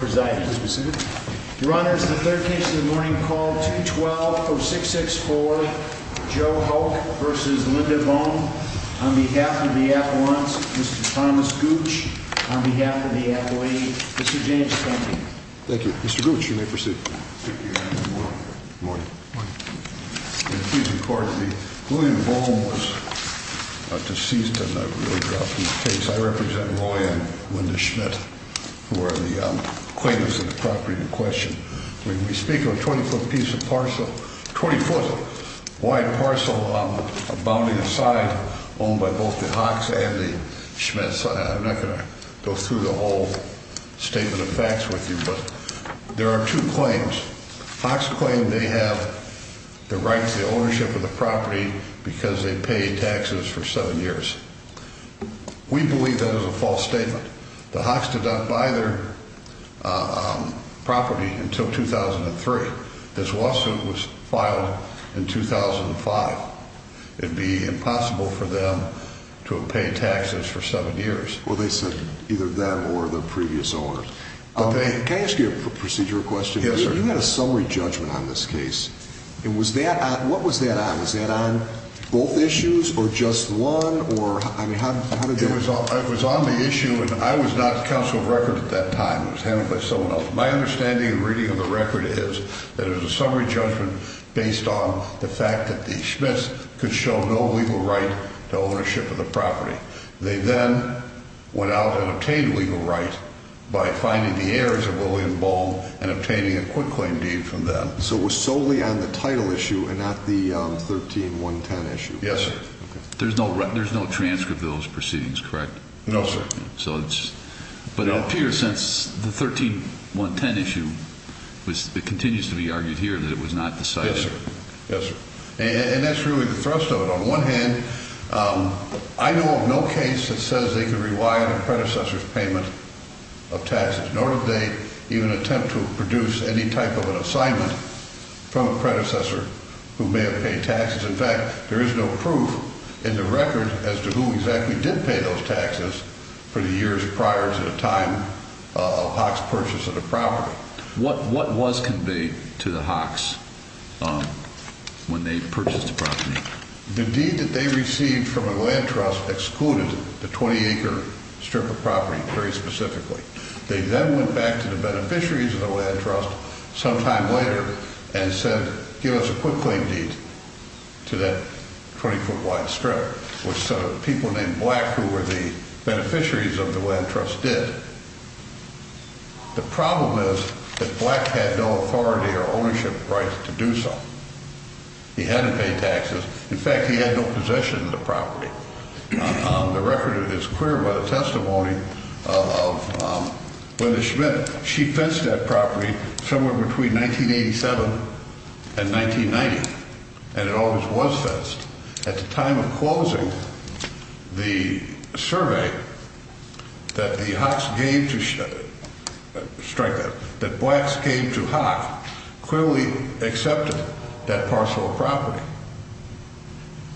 v. Linda Boehme. On behalf of the athletes, Mr. Thomas Gooch. On behalf of the athlete, Mr. James Kemping. Thank you. Mr. Gooch, you may proceed. Good morning. Good morning. Please record the William Boehme was deceased and I've really dropped the case. I represent William Boehme, Linda Schmidt, who are the claimants of the property in question. We speak of a 20-foot piece of parcel, 20-foot wide parcel, bounding aside, owned by both the Hawks and the Schmidts. I'm not going to go through the whole statement of facts with you, but there are two claims. Hawks claim they have the right to the ownership of the property because they paid taxes for seven years. We believe that is a false statement. The Hawks did not buy their property until 2003. This lawsuit was filed in 2005. It'd be impossible for them to have paid taxes for seven years. Well, they said either that or the previous owners. Can I ask you a procedural question? Yes, sir. You had a summary judgment on this case. What was that on? Was that on both issues or just one? It was on the issue and I was not counsel of record at that time. It was handled by someone else. My understanding and reading of the record is that it was a summary judgment based on the fact that the Schmidts could show no legal right to ownership of the property. They then went out and obtained legal right by finding the heirs of the property. So it was solely on the title issue and not the 13-110 issue. Yes, sir. There's no transcript of those proceedings, correct? No, sir. But it appears since the 13-110 issue, it continues to be argued here that it was not decided. Yes, sir. And that's really the thrust of it. On one hand, I know of no case that says they could rewire the without any type of an assignment from a predecessor who may have paid taxes. In fact, there is no proof in the record as to who exactly did pay those taxes for the years prior to the time of Hawks' purchase of the property. What was conveyed to the Hawks when they purchased the property? The deed that they received from a land trust excluded the 20-acre strip of property, very specifically. They then went back to the beneficiaries of the land trust sometime later and said, give us a quick claim deed to that 20-foot wide strip, which people named Black, who were the beneficiaries of the land trust, did. The problem is that Black had no authority or ownership right to do so. He hadn't paid taxes. In fact, he had no possession of the property. The record is clear by the testimony of Linda Schmidt. She fenced that property somewhere between 1987 and 1990, and it always was fenced. At the time of closing, the survey that the Hawks gave to, strike that, that Blacks gave to Hawks clearly accepted that parcel of property.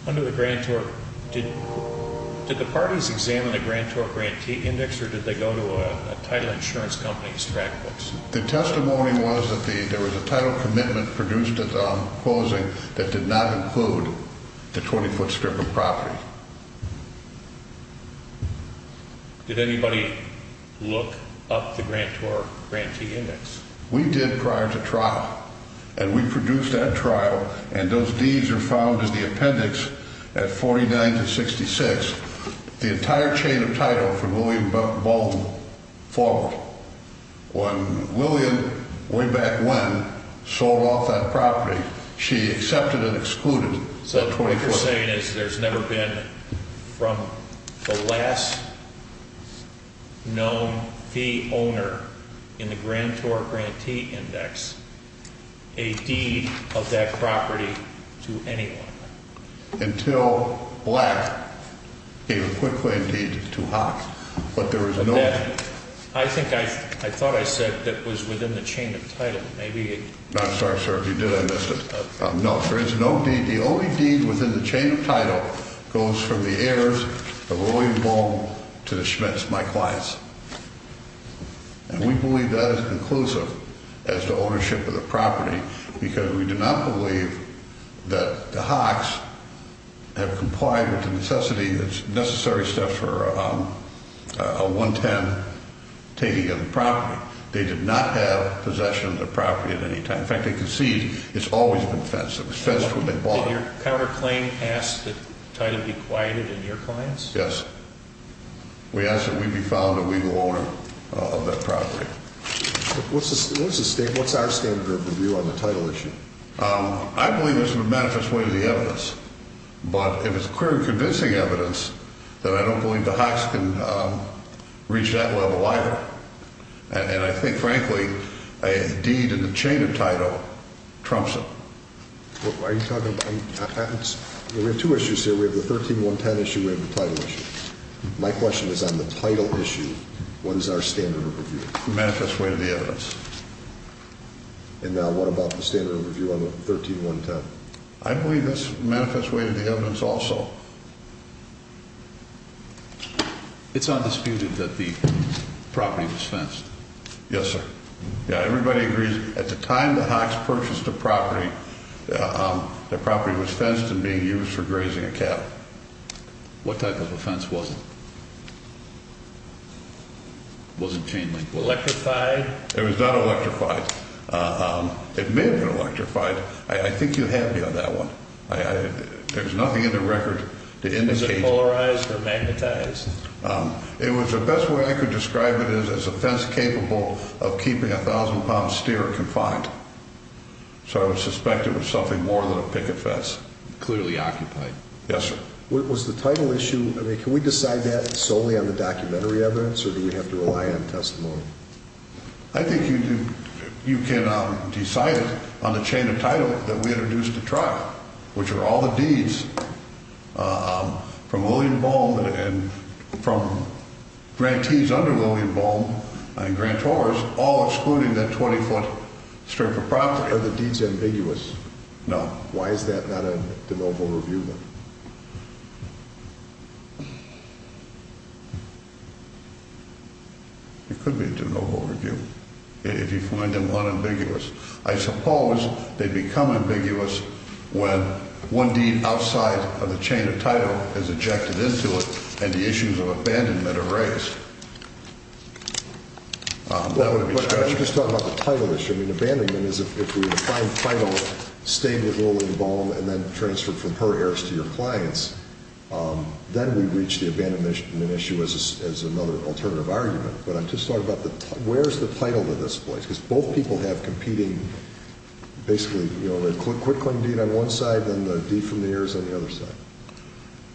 Under the Grand Torque, did the parties examine a Grand Torque grantee index, or did they go to a title insurance company's track books? The testimony was that there was a title commitment produced at the closing that did not include the 20-foot strip of property. Did anybody look up the Grand Torque grantee index? We did prior to trial, and we produced that trial, and those deeds are found in the appendix at 49 to 66. The entire chain of title for Lillian Baldwin followed. When Lillian, way back when, sold off that property, she accepted and excluded the 20-foot strip. So what you're saying is there's never been, from the last known fee owner in the Grand Torque grantee index, a deed of that property to anyone? Until Black gave a quick claim deed to Hawks, but there was no... I thought I said that was within the chain of title. I'm sorry, sir, if you did, I missed it. No, there is no deed. The only deed within the chain of title goes from the heirs of Lillian Baldwin to the Schmitz, my clients. And we believe that is inclusive as to ownership of the property, because we do not believe that the Hawks have complied with the necessity, the necessary steps for a 110 taking of the property. They did not have possession of the property at any time. In fact, they concede it's always been fenced. It was fenced when they bought it. Did your counterclaim ask that title be quieted in your clients? Yes. We asked that we be found a legal owner of that property. What's our standard of review on the title issue? I believe this would manifest way to the evidence, but if it's clear and convincing evidence, then I don't believe the Hawks can reach that level either. And I think, frankly, a deed in the chain of title trumps it. Are you talking about patents? We have two issues here. We have the 13-110 issue. We have the title issue. My question is on the title issue, what is our standard of review? It manifests way to the evidence. And now what about the standard of review on the 13-110? I believe this manifests way to the evidence also. It's undisputed that the property was fenced. Yes, sir. Yeah, everybody agrees. At the time the Hawks purchased the property, the property was fenced and being used for grazing a cattle. What type of a fence was it? It wasn't chain-linked. Electrified? It was not electrified. It may have been electrified. I think you had me on that one. There's nothing in the record to indicate that. Was it polarized or magnetized? It was the best way I could describe it is as a fence capable of keeping a thousand-pound steer confined. So I would suspect it was something more than a picket fence. Clearly occupied. Yes, sir. Was the title issue, I mean, can we decide that solely on the documentary evidence or do we have to rely on testimony? I think you can decide it on the chain of title that we introduced to trial, which are all the deeds from William Boehm and from grantees under William Boehm and grantors all excluding that 20-foot strip of property. Are the deeds ambiguous? No. Why is that not a de novo review then? It could be a de novo review if you find them unambiguous. I suppose they become ambiguous when one deed outside of the chain of title is ejected into it and the issues of abandonment are raised. I'm just talking about the title issue. I mean, abandonment is if we find title staying under William Boehm and then transferred from her heirs to your clients, then we reach the abandonment issue as another alternative argument. But I'm just talking about where's the title of this place? Because both people have competing basically, you know, the quick claim deed on one side and the deed from the heirs on the other side.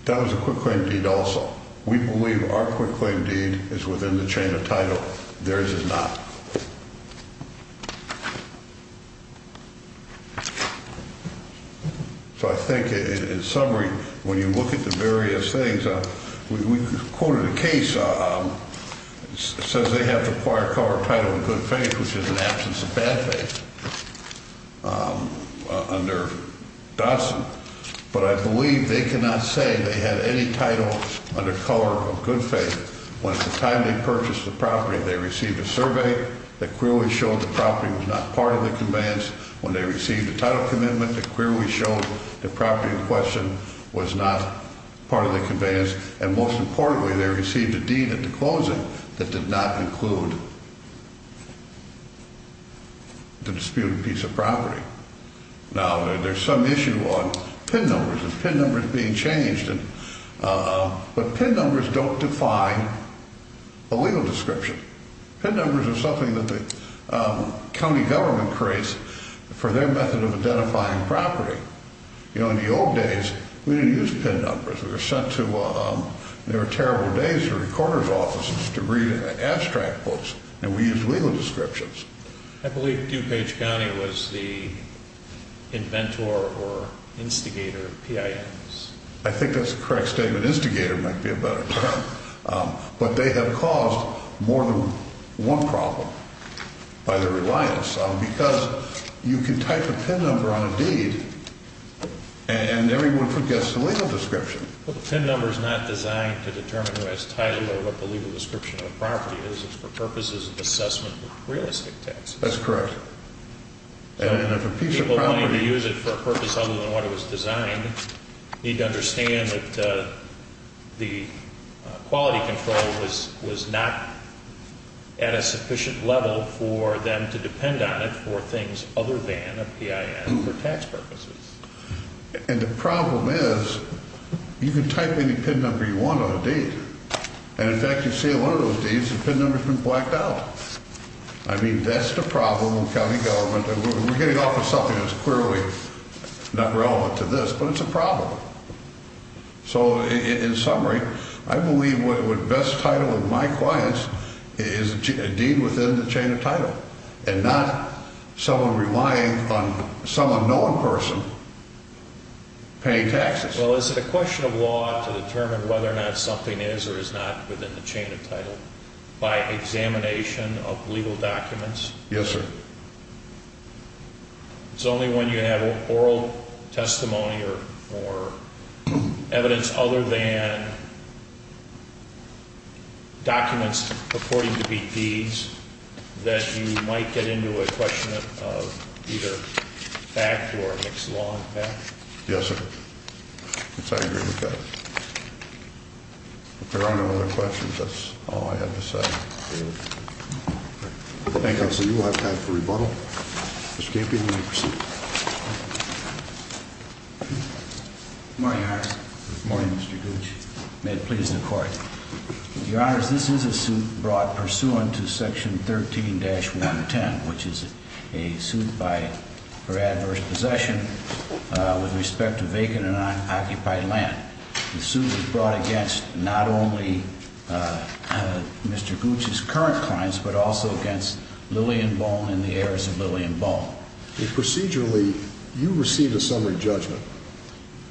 That was a quick claim deed also. We believe our quick claim deed is within the chain of title. Theirs is not. So I think in summary, when you look at the various things, we quoted a case that says they have to acquire color, title and good faith, which is an absence of bad faith under Dawson. But I believe they cannot say they had any title under color of good faith when at the time they purchased the property, they received a survey that clearly showed the property was not part of the conveyance. When they received the title commitment, they clearly showed the property in question was not part of the conveyance. And most importantly, they received a deed at the closing that did not include the disputed piece of property. Now, there's some issue on PIN numbers, PIN numbers being changed. But PIN numbers don't define a legal description. PIN numbers are something that the county government creates for their method of identifying property. You know, in the old days, we didn't use PIN numbers. We were sent to, there were terrible days for recorder's offices to read abstract books and we used legal descriptions. I believe DuPage County was the inventor or instigator of PINs. I think that's a correct statement. Instigator might be a better term. But they have caused more than one problem by their reliance on because you can type a PIN number on a deed and everyone forgets the legal description. Well, the PIN number is not designed to determine who has title or what the legal description of the property is. It's for purposes of assessment of realistic taxes. That's correct. And if a piece of property is designed to use it for a purpose other than what it was designed, you need to understand that the quality control was not at a sufficient level for them to depend on it for things other than a PIN for tax purposes. And the problem is, you can type any PIN number you want on a deed. And in fact, you see on one of those deeds, the PIN number has been blacked out. I mean, that's the problem with We're getting off on something that's clearly not relevant to this, but it's a problem. So in summary, I believe the best title of my clients is a deed within the chain of title and not someone relying on some unknown person paying taxes. Well, is it a question of law to determine whether or not something is or is not within the chain of title by examination of legal documents? Yes, sir. It's only when you have oral testimony or evidence other than documents purporting to be deeds that you might get into a question of either fact or mixed law. Yes, sir. I agree with that. If there are no other questions, that's all I have to say. Thank you, Counselor. You will have time for rebuttal. Mr. Campion, you may proceed. Good morning, Your Honor. Good morning, Mr. Gooch. May it please the Court. Your Honor, this is a suit brought pursuant to Section 13-110, which is a suit for adverse possession with respect to vacant and unoccupied land. The suit was brought against not only Mr. Gooch's current clients, but also against Lillian Bone and the heirs of Lillian Bone. Procedurally, you received a summary judgment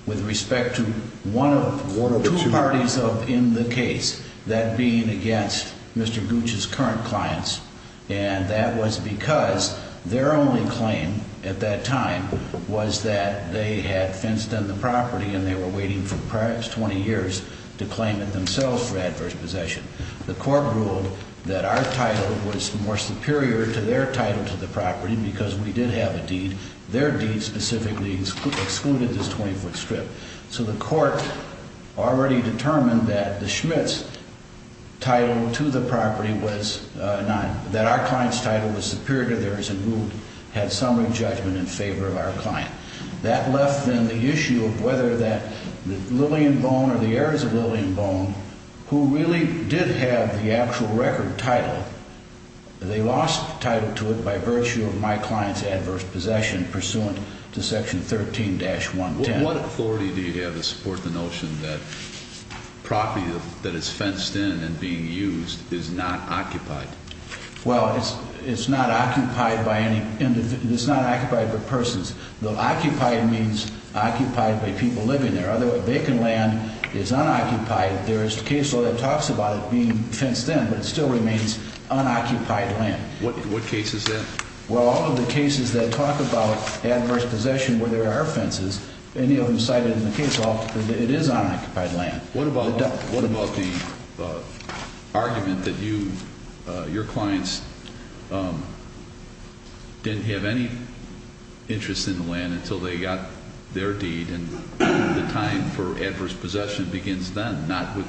with respect to one of two parties in the case, that being against Mr. Gooch's current clients, and that was because their only claim at that time was that they had fenced in the property and they were waiting for perhaps 20 years to claim it themselves for adverse possession. The Court ruled that our title was more superior to their title to the property because we did have a deed. Their deed specifically excluded this 20-foot strip. So the Court already determined that the Schmitt's title to the property was not, that our client's title was superior to theirs and who had summary judgment in favor of our client. That left then the issue of whether that Lillian Bone or the heirs of Lillian Bone, who really did have the actual record title, they lost title to it by virtue of my client's adverse possession pursuant to Section 13-110. What authority do you have to support the notion that property that is fenced in and being used is not occupied? Well, it's not occupied by any, it's not occupied by persons. Occupied means occupied by people living there. Otherwise, vacant land is unoccupied. There is a case law that talks about it being fenced in, but it still remains unoccupied land. What case is that? Well, all of the cases that talk about adverse possession where there are fences, any of them cited in the case law, it is unoccupied land. What about the argument that your clients didn't have any interest in the land until they got their deed and the time for adverse possession begins then, not with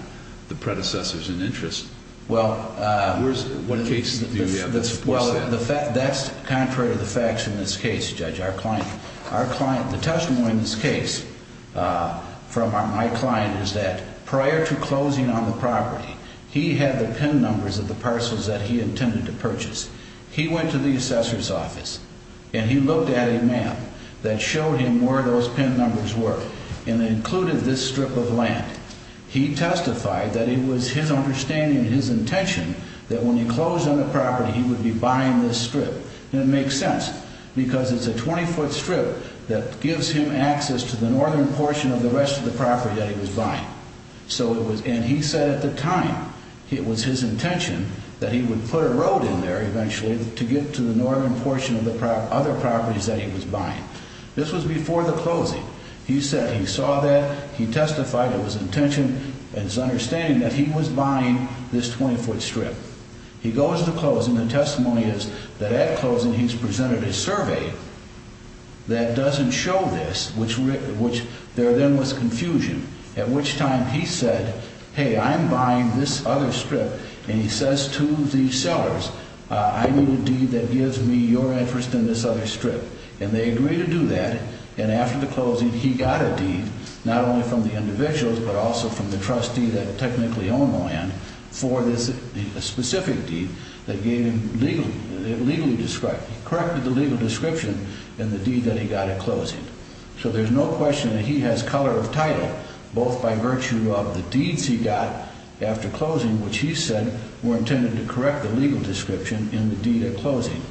the predecessors in interest? Well, that's contrary to the facts in this case, Judge. The testimony in this case from my client is that prior to closing on the property, he had the PIN numbers of the parcels that he intended to purchase. He went to the assessor's office and he looked at a map that showed him where those PIN numbers were and included this strip of land. He testified that it was his understanding and his intention that when he closed on the property he would be buying this strip. And it makes sense because it's a 20-foot strip that gives him access to the northern portion of the rest of the property that he was buying. And he said at the time it was his intention that he would put a road in there eventually to get to the northern portion of the other properties that he was buying. This was before the closing. He said he saw that. He testified it was his intention and his understanding that he was buying this 20-foot strip. He goes to the closing. The testimony is that at closing he's presented a survey that doesn't show this, which there then was confusion, at which time he said, hey, I'm buying this other strip. And he says to the sellers, I need a deed that gives me your interest in this other strip. And they agree to do that. And after the closing he got a deed, not only from the individuals, but also from the trustee that technically owned the land for this specific deed that gave him legally described, corrected the legal description in the deed that he got at closing. So there's no question that he has color of title, both by virtue of the deeds he got after closing, which he said were intended to correct the legal description in the deed at closing.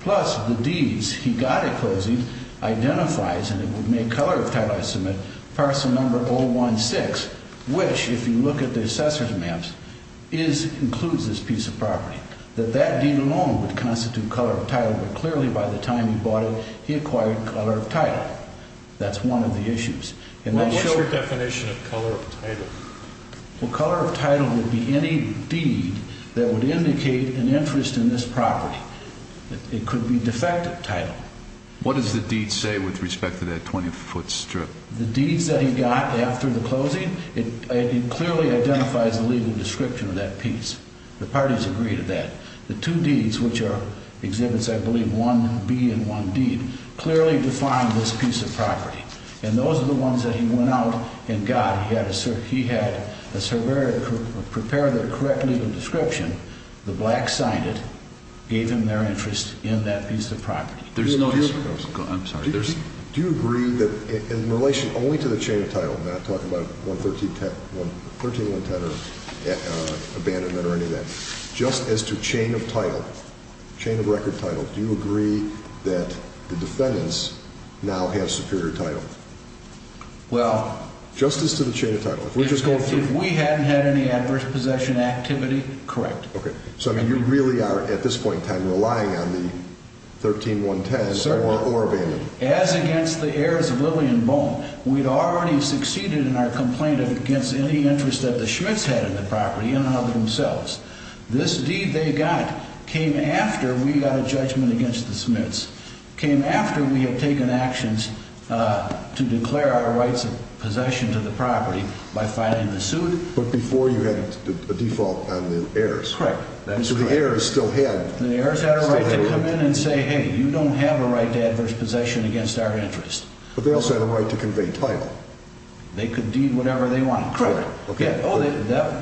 Plus, the deeds he got at closing identifies, and it would make color of title, I submit, parcel number 016, which, if you look at the assessor's maps, includes this piece of property, that that deed alone would constitute color of title. But clearly by the time he bought it, he acquired color of title. That's one of the issues. What's your definition of color of title? Well, color of title would be any deed that would indicate an interest in this property. It could be defective title. What does the deed say with respect to that 20-foot strip? The deeds that he got after the closing, it clearly identifies the legal description of that piece. The parties agree to that. The two deeds, which are exhibits, I believe, 1B and 1D, clearly define this piece of property. And those are the ones that he went out and got. He had a surveyor prepare the correct legal description. The blacks signed it, gave him their interest in that piece of property. There's no... I'm sorry. Do you agree that in relation only to the chain of title, and I'm not talking about 11310 or abandonment or any of that, just as to chain of title, chain of record title, do you agree that the defendants now have superior title? Well... Just as to the chain of title. If we're just going through... If we hadn't had any adverse possession activity, correct. Okay. So you really are, at this point in time, relying on the 13110 or abandonment. As against the heirs of Lillian Bone, we'd already succeeded in our complaint against any interest that the Schmitz had in the property, in and of themselves. This deed they got came after we got a judgment against the Schmitz. It came after we had taken actions to declare our rights of possession to the property by filing the suit. But before you had a default on the heirs. Correct. So the heirs still had... The heirs had a right to come in and say, hey, you don't have a right to adverse possession against our interest. But they also had a right to convey title. They could deed whatever they wanted. Correct. By that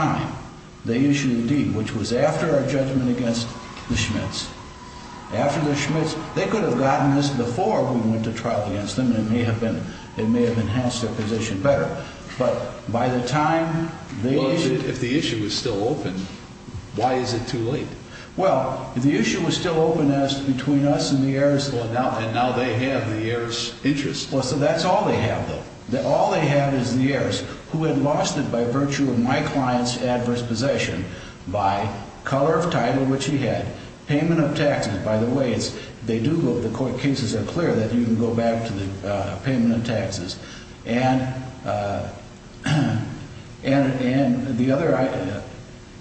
time, they issued the deed, which was after our judgment against the Schmitz. After the Schmitz... They could have gotten this before we went to trial against them. It may have been... It may have enhanced their position better. But by the time they issued... Well, if the issue was still open, why is it too late? Well, if the issue was still open as between us and the heirs... Well, and now they have the heirs' interest. Well, so that's all they have, though. All they have is the heirs who had lost it by virtue of my client's adverse possession by color of title which he had, payment of taxes. By the way, they do go... The court cases are clear that you can go back to the payment of taxes. And the other...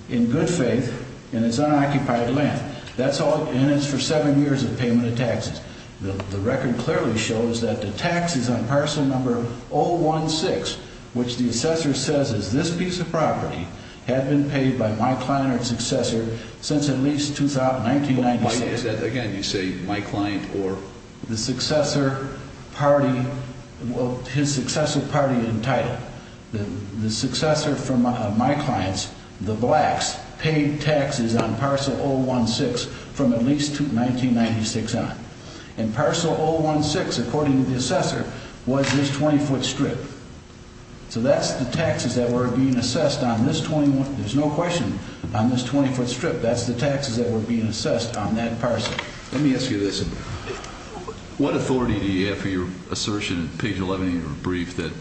In good faith, in its unoccupied land. That's all... And it's for seven years of payment of taxes. The record clearly shows that the taxes on parcel number 016, which the assessor says is this piece of property, had been paid by my client or successor since at least 1996. Why is that? Again, you say my client or... The successor party... Well, his successor party in title. The successor from my client's, the blacks, paid taxes on parcel 016 from at least 1996 on. And parcel 016, according to the assessor, was this 20-foot strip. So that's the taxes that were being assessed on this 21... There's no question on this 20-foot strip. That's the taxes that were being assessed on that parcel. Let me ask you this. What authority do you have for your assertion in page 11 of your brief that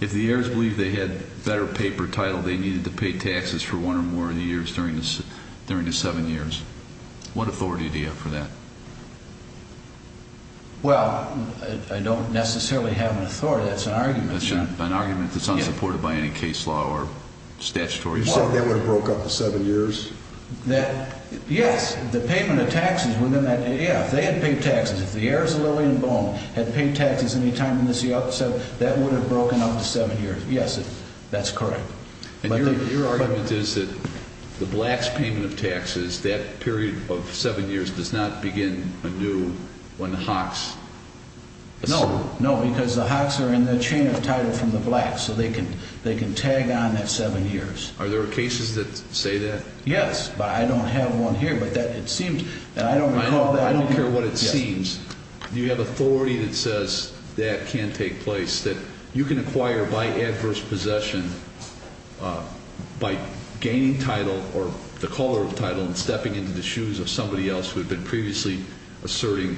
if the heirs believed they had better paper title, they needed to pay taxes for one or more of the years during the seven years? What authority do you have for that? Well, I don't necessarily have an authority. That's an argument. That's an argument that's unsupported by any case law or statutory law. You said they were broke up for seven years? Yes, the payment of taxes within that... Yeah, if they had paid taxes, if the heirs of Lillian Boone had paid taxes any time in this... That would have broken up to seven years. Yes, that's correct. And your argument is that the blacks' payment of taxes, that period of seven years does not begin anew when the hawks... No, no, because the hawks are in the chain of title from the blacks, so they can tag on that seven years. Are there cases that say that? Yes, but I don't have one here, but it seems... I don't care what it seems. Do you have authority that says that can take place, that you can acquire by adverse possession, by gaining title or the color of title and stepping into the shoes of somebody else who had been previously asserting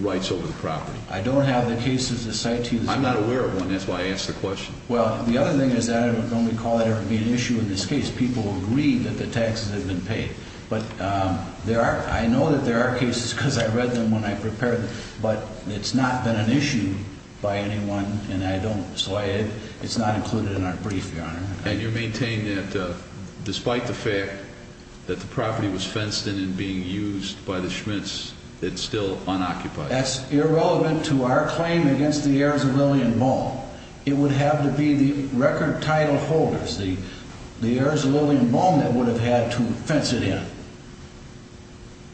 rights over the property? I don't have the cases to cite to you. I'm not aware of one. That's why I asked the question. Well, the other thing is that I don't recall it ever being an issue in this case. People agreed that the taxes had been paid. But I know that there are cases, because I read them when I prepared them, but it's not been an issue by anyone, and I don't... so it's not included in our brief, Your Honor. And you maintain that despite the fact that the property was fenced in and being used by the Schmitz, it's still unoccupied. That's irrelevant to our claim against the Arizalillion Mall. It would have to be the record title holders, the Arizalillion Mall that would have had to fence it in.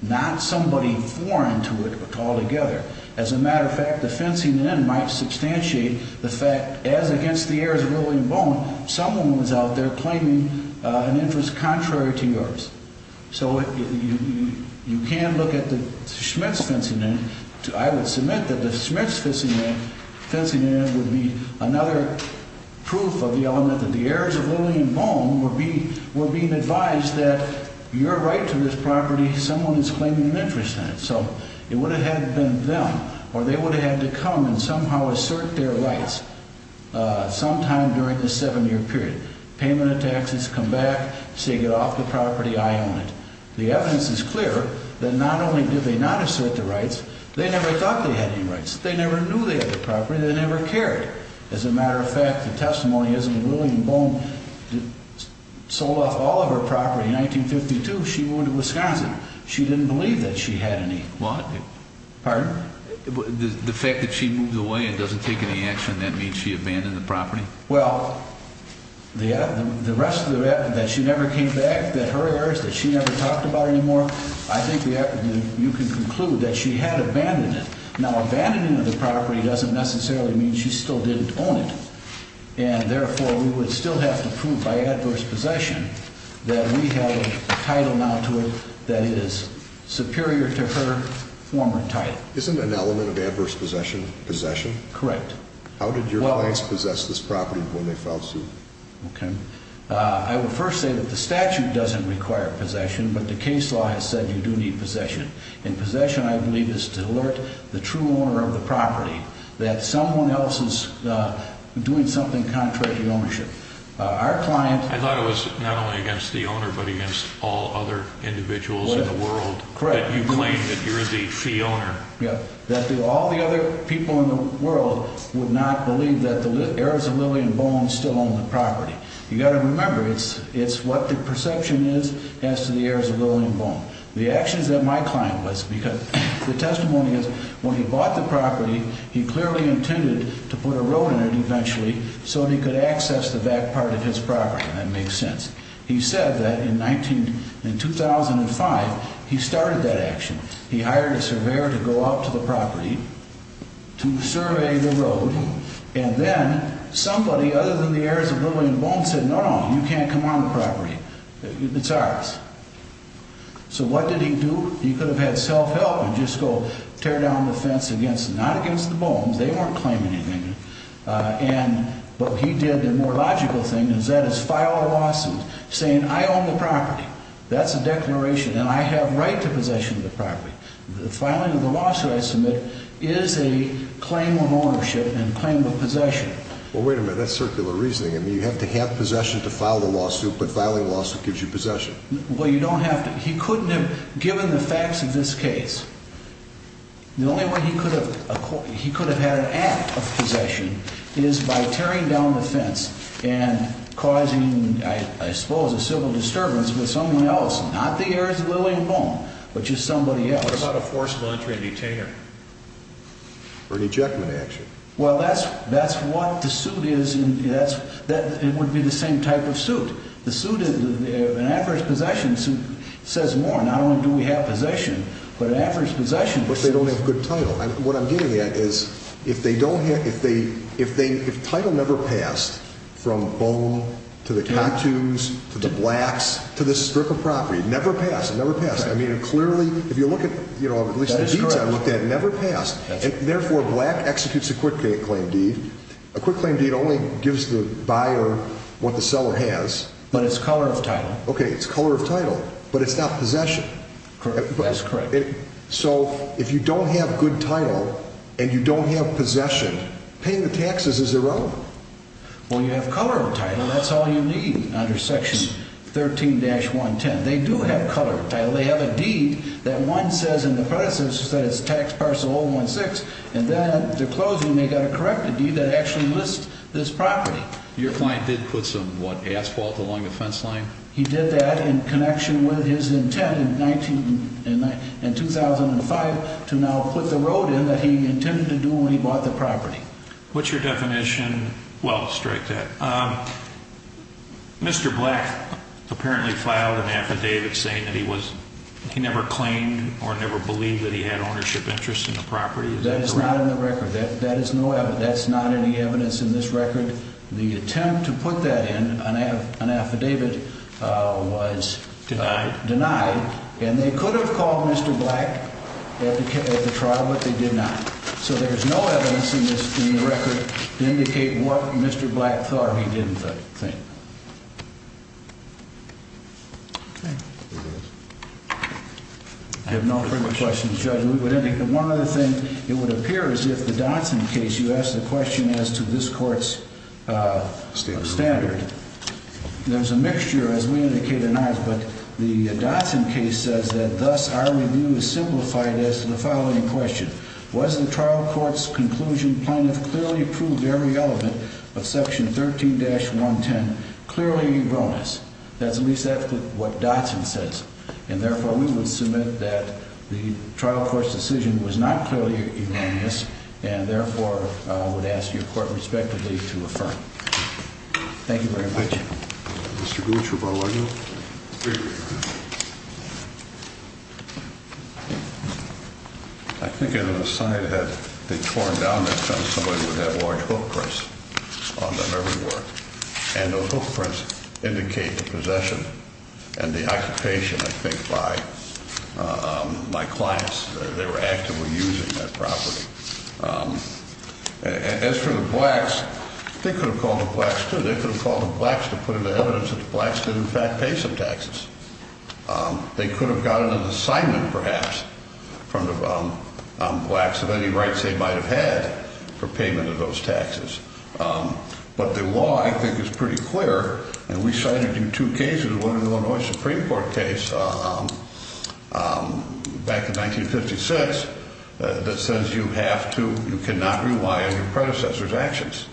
Not somebody foreign to it altogether. As a matter of fact, the fencing in might substantiate the fact, as against the heirs of Lillian Bone, someone was out there claiming an interest contrary to yours. So you can look at the Schmitz fencing in. I would submit that the Schmitz fencing in would be another proof of the element that the heirs of Lillian Bone were being advised that your right to this property, someone is claiming an interest in it. So it would have been them, or they would have had to come and somehow assert their rights sometime during the seven-year period. Payment of taxes, come back, say, get off the property, I own it. The evidence is clear that not only did they not assert the rights, they never thought they had any rights. They never knew they had the property, they never cared. As a matter of fact, the testimony is that when Lillian Bone sold off all of her property in 1952, she moved to Wisconsin. She didn't believe that she had any. What? Pardon? The fact that she moved away and doesn't take any action, that means she abandoned the property? Well, the rest of it, that she never came back, that her heirs, that she never talked about her anymore, I think you can conclude that she had abandoned it. Now, abandoning of the property doesn't necessarily mean she still didn't own it. And therefore, we would still have to prove by adverse possession that we have a title now to it that is superior to her former title. Isn't an element of adverse possession, possession? Correct. How did your clients possess this property when they filed suit? Okay. I would first say that the statute doesn't require possession, but the case law has said you do need possession. And possession, I believe, is to alert the true owner of the property that someone else is doing something contrary to ownership. Our client... I thought it was not only against the owner, but against all other individuals in the world. Correct. That you claim that you're the fee owner. Yeah. That all the other people in the world would not believe that the heirs of Lillian Bone still own the property. You've got to remember, it's what the perception is as to the heirs of Lillian Bone. The actions that my client was, because the testimony is when he bought the property, he clearly intended to put a road in it eventually so that he could access the back part of his property, and that makes sense. He said that in 2005, he started that action. He hired a surveyor to go out to the property to survey the road, and then somebody other than the heirs of Lillian Bone said, no, no, you can't come on the property. It's ours. So what did he do? He could have had self-help and just go tear down the fence against them. Not against the bones. They weren't claiming anything. But what he did, the more logical thing, is that is file a lawsuit saying, I own the property. That's a declaration, and I have right to possession of the property. The filing of the lawsuit I submit is a claim of ownership and a claim of possession. Well, wait a minute. That's circular reasoning. You have to have possession to file the lawsuit, but filing a lawsuit gives you possession. Well, you don't have to. He couldn't have, given the facts of this case, the only way he could have had an act of possession is by tearing down the fence and causing, I suppose, a civil disturbance with someone else, not the heirs of Lillian Bone, but just somebody else. What about a forcible entry and detainer? Or an ejectment action? Well, that's what the suit is. It would be the same type of suit. An average possession suit says more. Not only do we have possession, but an average possession suit. But they don't have good title. What I'm getting at is if title never passed from Bone to the Catoons to the Blacks to this strip of property, never passed, never passed. I mean, clearly, if you look at at least the deeds I looked at, never passed. Therefore, Black executes a quick claim deed. A quick claim deed only gives the buyer what the seller has. But it's color of title. Okay, it's color of title, but it's not possession. That's correct. So if you don't have good title and you don't have possession, paying the taxes is irrelevant. Well, you have color of title. That's all you need under Section 13-110. They do have color of title. They have a deed that one says in the predecessor that it's tax parcel 016, and then at the closing they got a corrected deed that actually lists this property. Your client did put some, what, asphalt along the fence line? He did that in connection with his intent in 2005 to now put the road in that he intended to do when he bought the property. What's your definition? Well, strike that. Mr. Black apparently filed an affidavit saying that he never claimed or never believed that he had ownership interests in the property. That is not in the record. That is no evidence. That's not any evidence in this record. The attempt to put that in, an affidavit, was denied. And they could have called Mr. Black at the trial, but they did not. So there's no evidence in the record to indicate what Mr. Black thought or he didn't think. Okay. I have no further questions, Judge. One other thing, it would appear as if the Dotson case, you asked the question as to this court's standard. There's a mixture, as we indicated in ours, but the Dotson case says that, thus, our review is simplified as to the following question. Was the trial court's conclusion plan to clearly prove every element of Section 13-110 clearly erroneous? That's at least what Dotson says. And, therefore, we would submit that the trial court's decision was not clearly erroneous and, therefore, would ask your court, respectively, to affirm. Thank you very much. Mr. Gooch, rebuttal. Mr. O'Neill? I think it was a sign that had been torn down that somebody would have large hook prints on their memory work. And those hook prints indicate the possession and the occupation, I think, by my clients. They were actively using that property. As for the Blacks, they could have called the Blacks, too. They could have called the Blacks to put in evidence that the Blacks did, in fact, pay some taxes. They could have gotten an assignment, perhaps, from the Blacks of any rights they might have had for payment of those taxes. But the law, I think, is pretty clear. And we cited in two cases, one in the Illinois Supreme Court case back in 1956, that says you have to, you cannot rely on your predecessor's actions.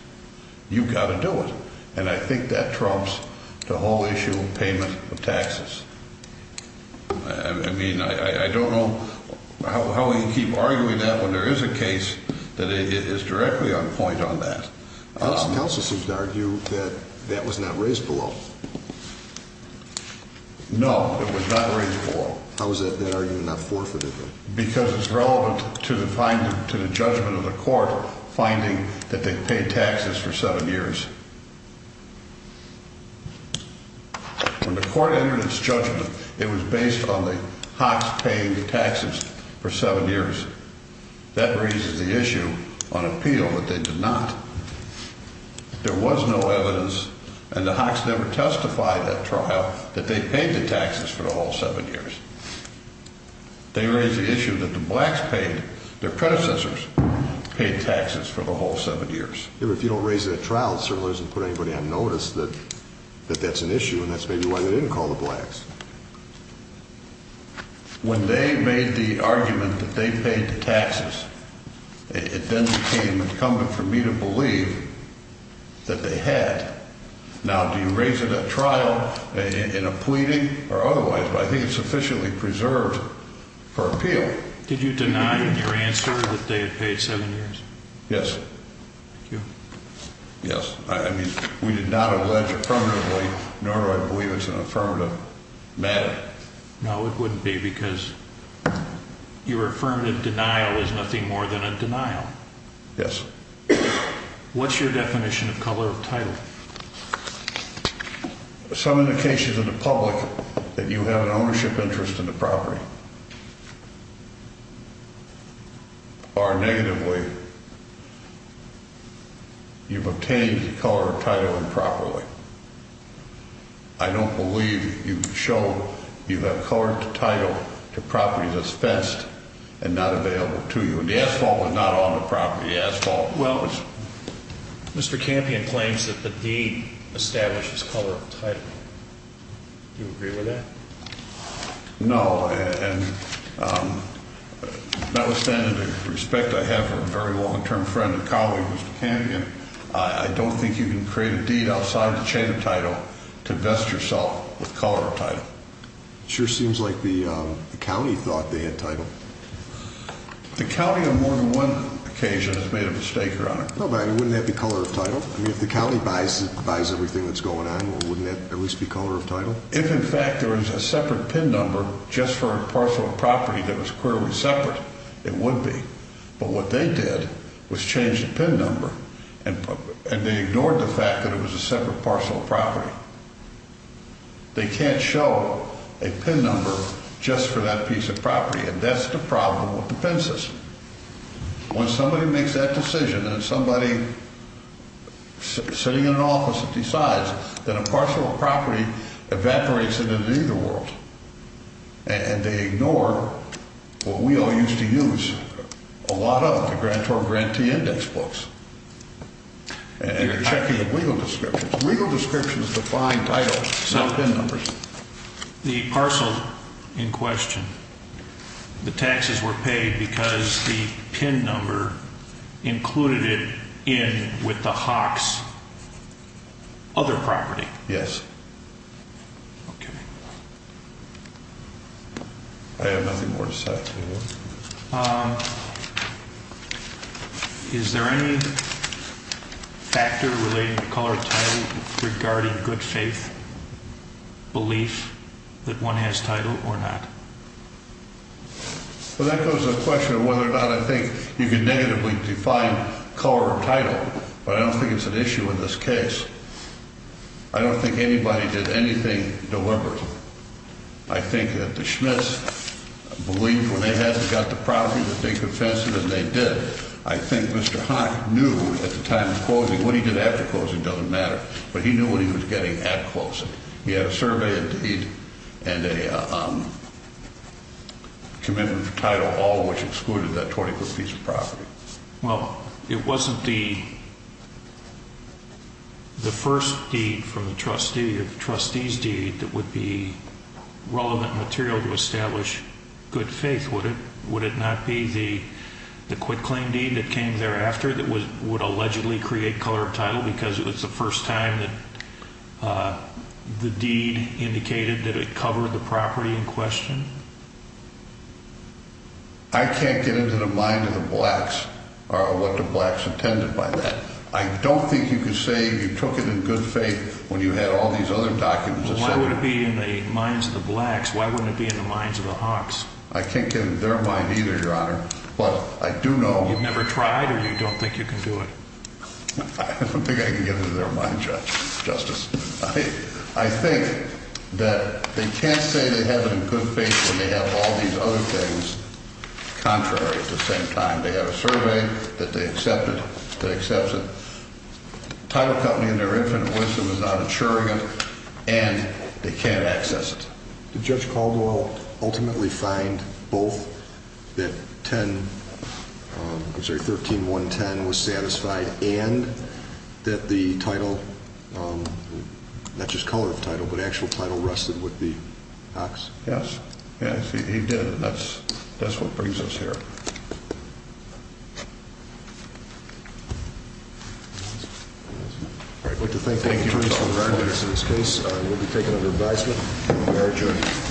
You've got to do it. And I think that trumps the whole issue of payment of taxes. I mean, I don't know how we can keep arguing that when there is a case that is directly on point on that. Counsel seems to argue that that was not raised below. No, it was not raised below. How is that argument not forfeited, then? Because it's relevant to the judgment of the court finding that they paid taxes for seven years. When the court entered its judgment, it was based on the Hawks paying taxes for seven years. That raises the issue on appeal that they did not. There was no evidence, and the Hawks never testified at trial, that they paid the taxes for the whole seven years. They raised the issue that the blacks paid, their predecessors paid taxes for the whole seven years. If you don't raise it at trial, it certainly doesn't put anybody on notice that that's an issue, and that's maybe why they didn't call the blacks. When they made the argument that they paid the taxes, it then became incumbent for me to believe that they had. Now, do you raise it at trial in a pleading or otherwise? But I think it's sufficiently preserved for appeal. Did you deny in your answer that they had paid seven years? Yes. Thank you. Yes. I mean, we did not allege affirmatively, nor do I believe it's an affirmative matter. No, it wouldn't be because your affirmative denial is nothing more than a denial. Yes. What's your definition of color of title? Some indications of the public that you have an ownership interest in the property. Or negatively, you've obtained color of title improperly. I don't believe you show you have color of title to properties that's fenced and not available to you. When the asphalt was not on the property, the asphalt was. Mr. Campion claims that the deed establishes color of title. Do you agree with that? No, and notwithstanding the respect I have for a very long-term friend and colleague, Mr. Campion, I don't think you can create a deed outside the chain of title to vest yourself with color of title. It sure seems like the county thought they had title. The county on more than one occasion has made a mistake, Your Honor. No, but wouldn't that be color of title? I mean, if the county buys everything that's going on, wouldn't that at least be color of title? If, in fact, there was a separate PIN number just for a parcel of property that was clearly separate, it would be. But what they did was change the PIN number, and they ignored the fact that it was a separate parcel of property. They can't show a PIN number just for that piece of property, and that's the problem with the PIN system. When somebody makes that decision and somebody sitting in an office decides that a parcel of property evaporates into neither world, and they ignore what we all used to use a lot of, the grantor-grantee index books and the checking of legal descriptions. Legal descriptions define title, not PIN numbers. So the parcel in question, the taxes were paid because the PIN number included it in with the HAWQS other property? Yes. Okay. I have nothing more to say. Is there any factor related to color of title regarding good faith belief that one has title or not? Well, that goes to the question of whether or not I think you can negatively define color of title, but I don't think it's an issue in this case. I don't think anybody did anything deliberate. I think that the Schmitz believed when they got the property that they confessed it, and they did. I think Mr. Haack knew at the time of closing, what he did after closing doesn't matter, but he knew what he was getting at closing. He had a survey and a commitment for title, all of which excluded that 20-foot piece of property. Well, it wasn't the first deed from the trustee or the trustee's deed that would be relevant material to establish good faith, would it? Would it not be the quitclaim deed that came thereafter that would allegedly create color of title because it was the first time that the deed indicated that it covered the property in question? I can't get into the mind of the blacks or what the blacks intended by that. I don't think you can say you took it in good faith when you had all these other documents. Well, why would it be in the minds of the blacks? Why wouldn't it be in the minds of the Haaks? I can't get into their mind either, Your Honor. You've never tried, or you don't think you can do it? I don't think I can get into their mind, Justice. I think that they can't say they have it in good faith when they have all these other things. Contrary, at the same time, they have a survey that they accepted, that accepts it. Title Company, in their infinite wisdom, is not insuring it, and they can't access it. Did Judge Caldwell ultimately find both that 13-110 was satisfied and that the title, not just color of title, but actual title rested with the Haaks? Yes. Yes, he did, and that's what brings us here. Thank you. I'd like to thank the attorneys for this case. We'll be taking over advisement. We are adjourned.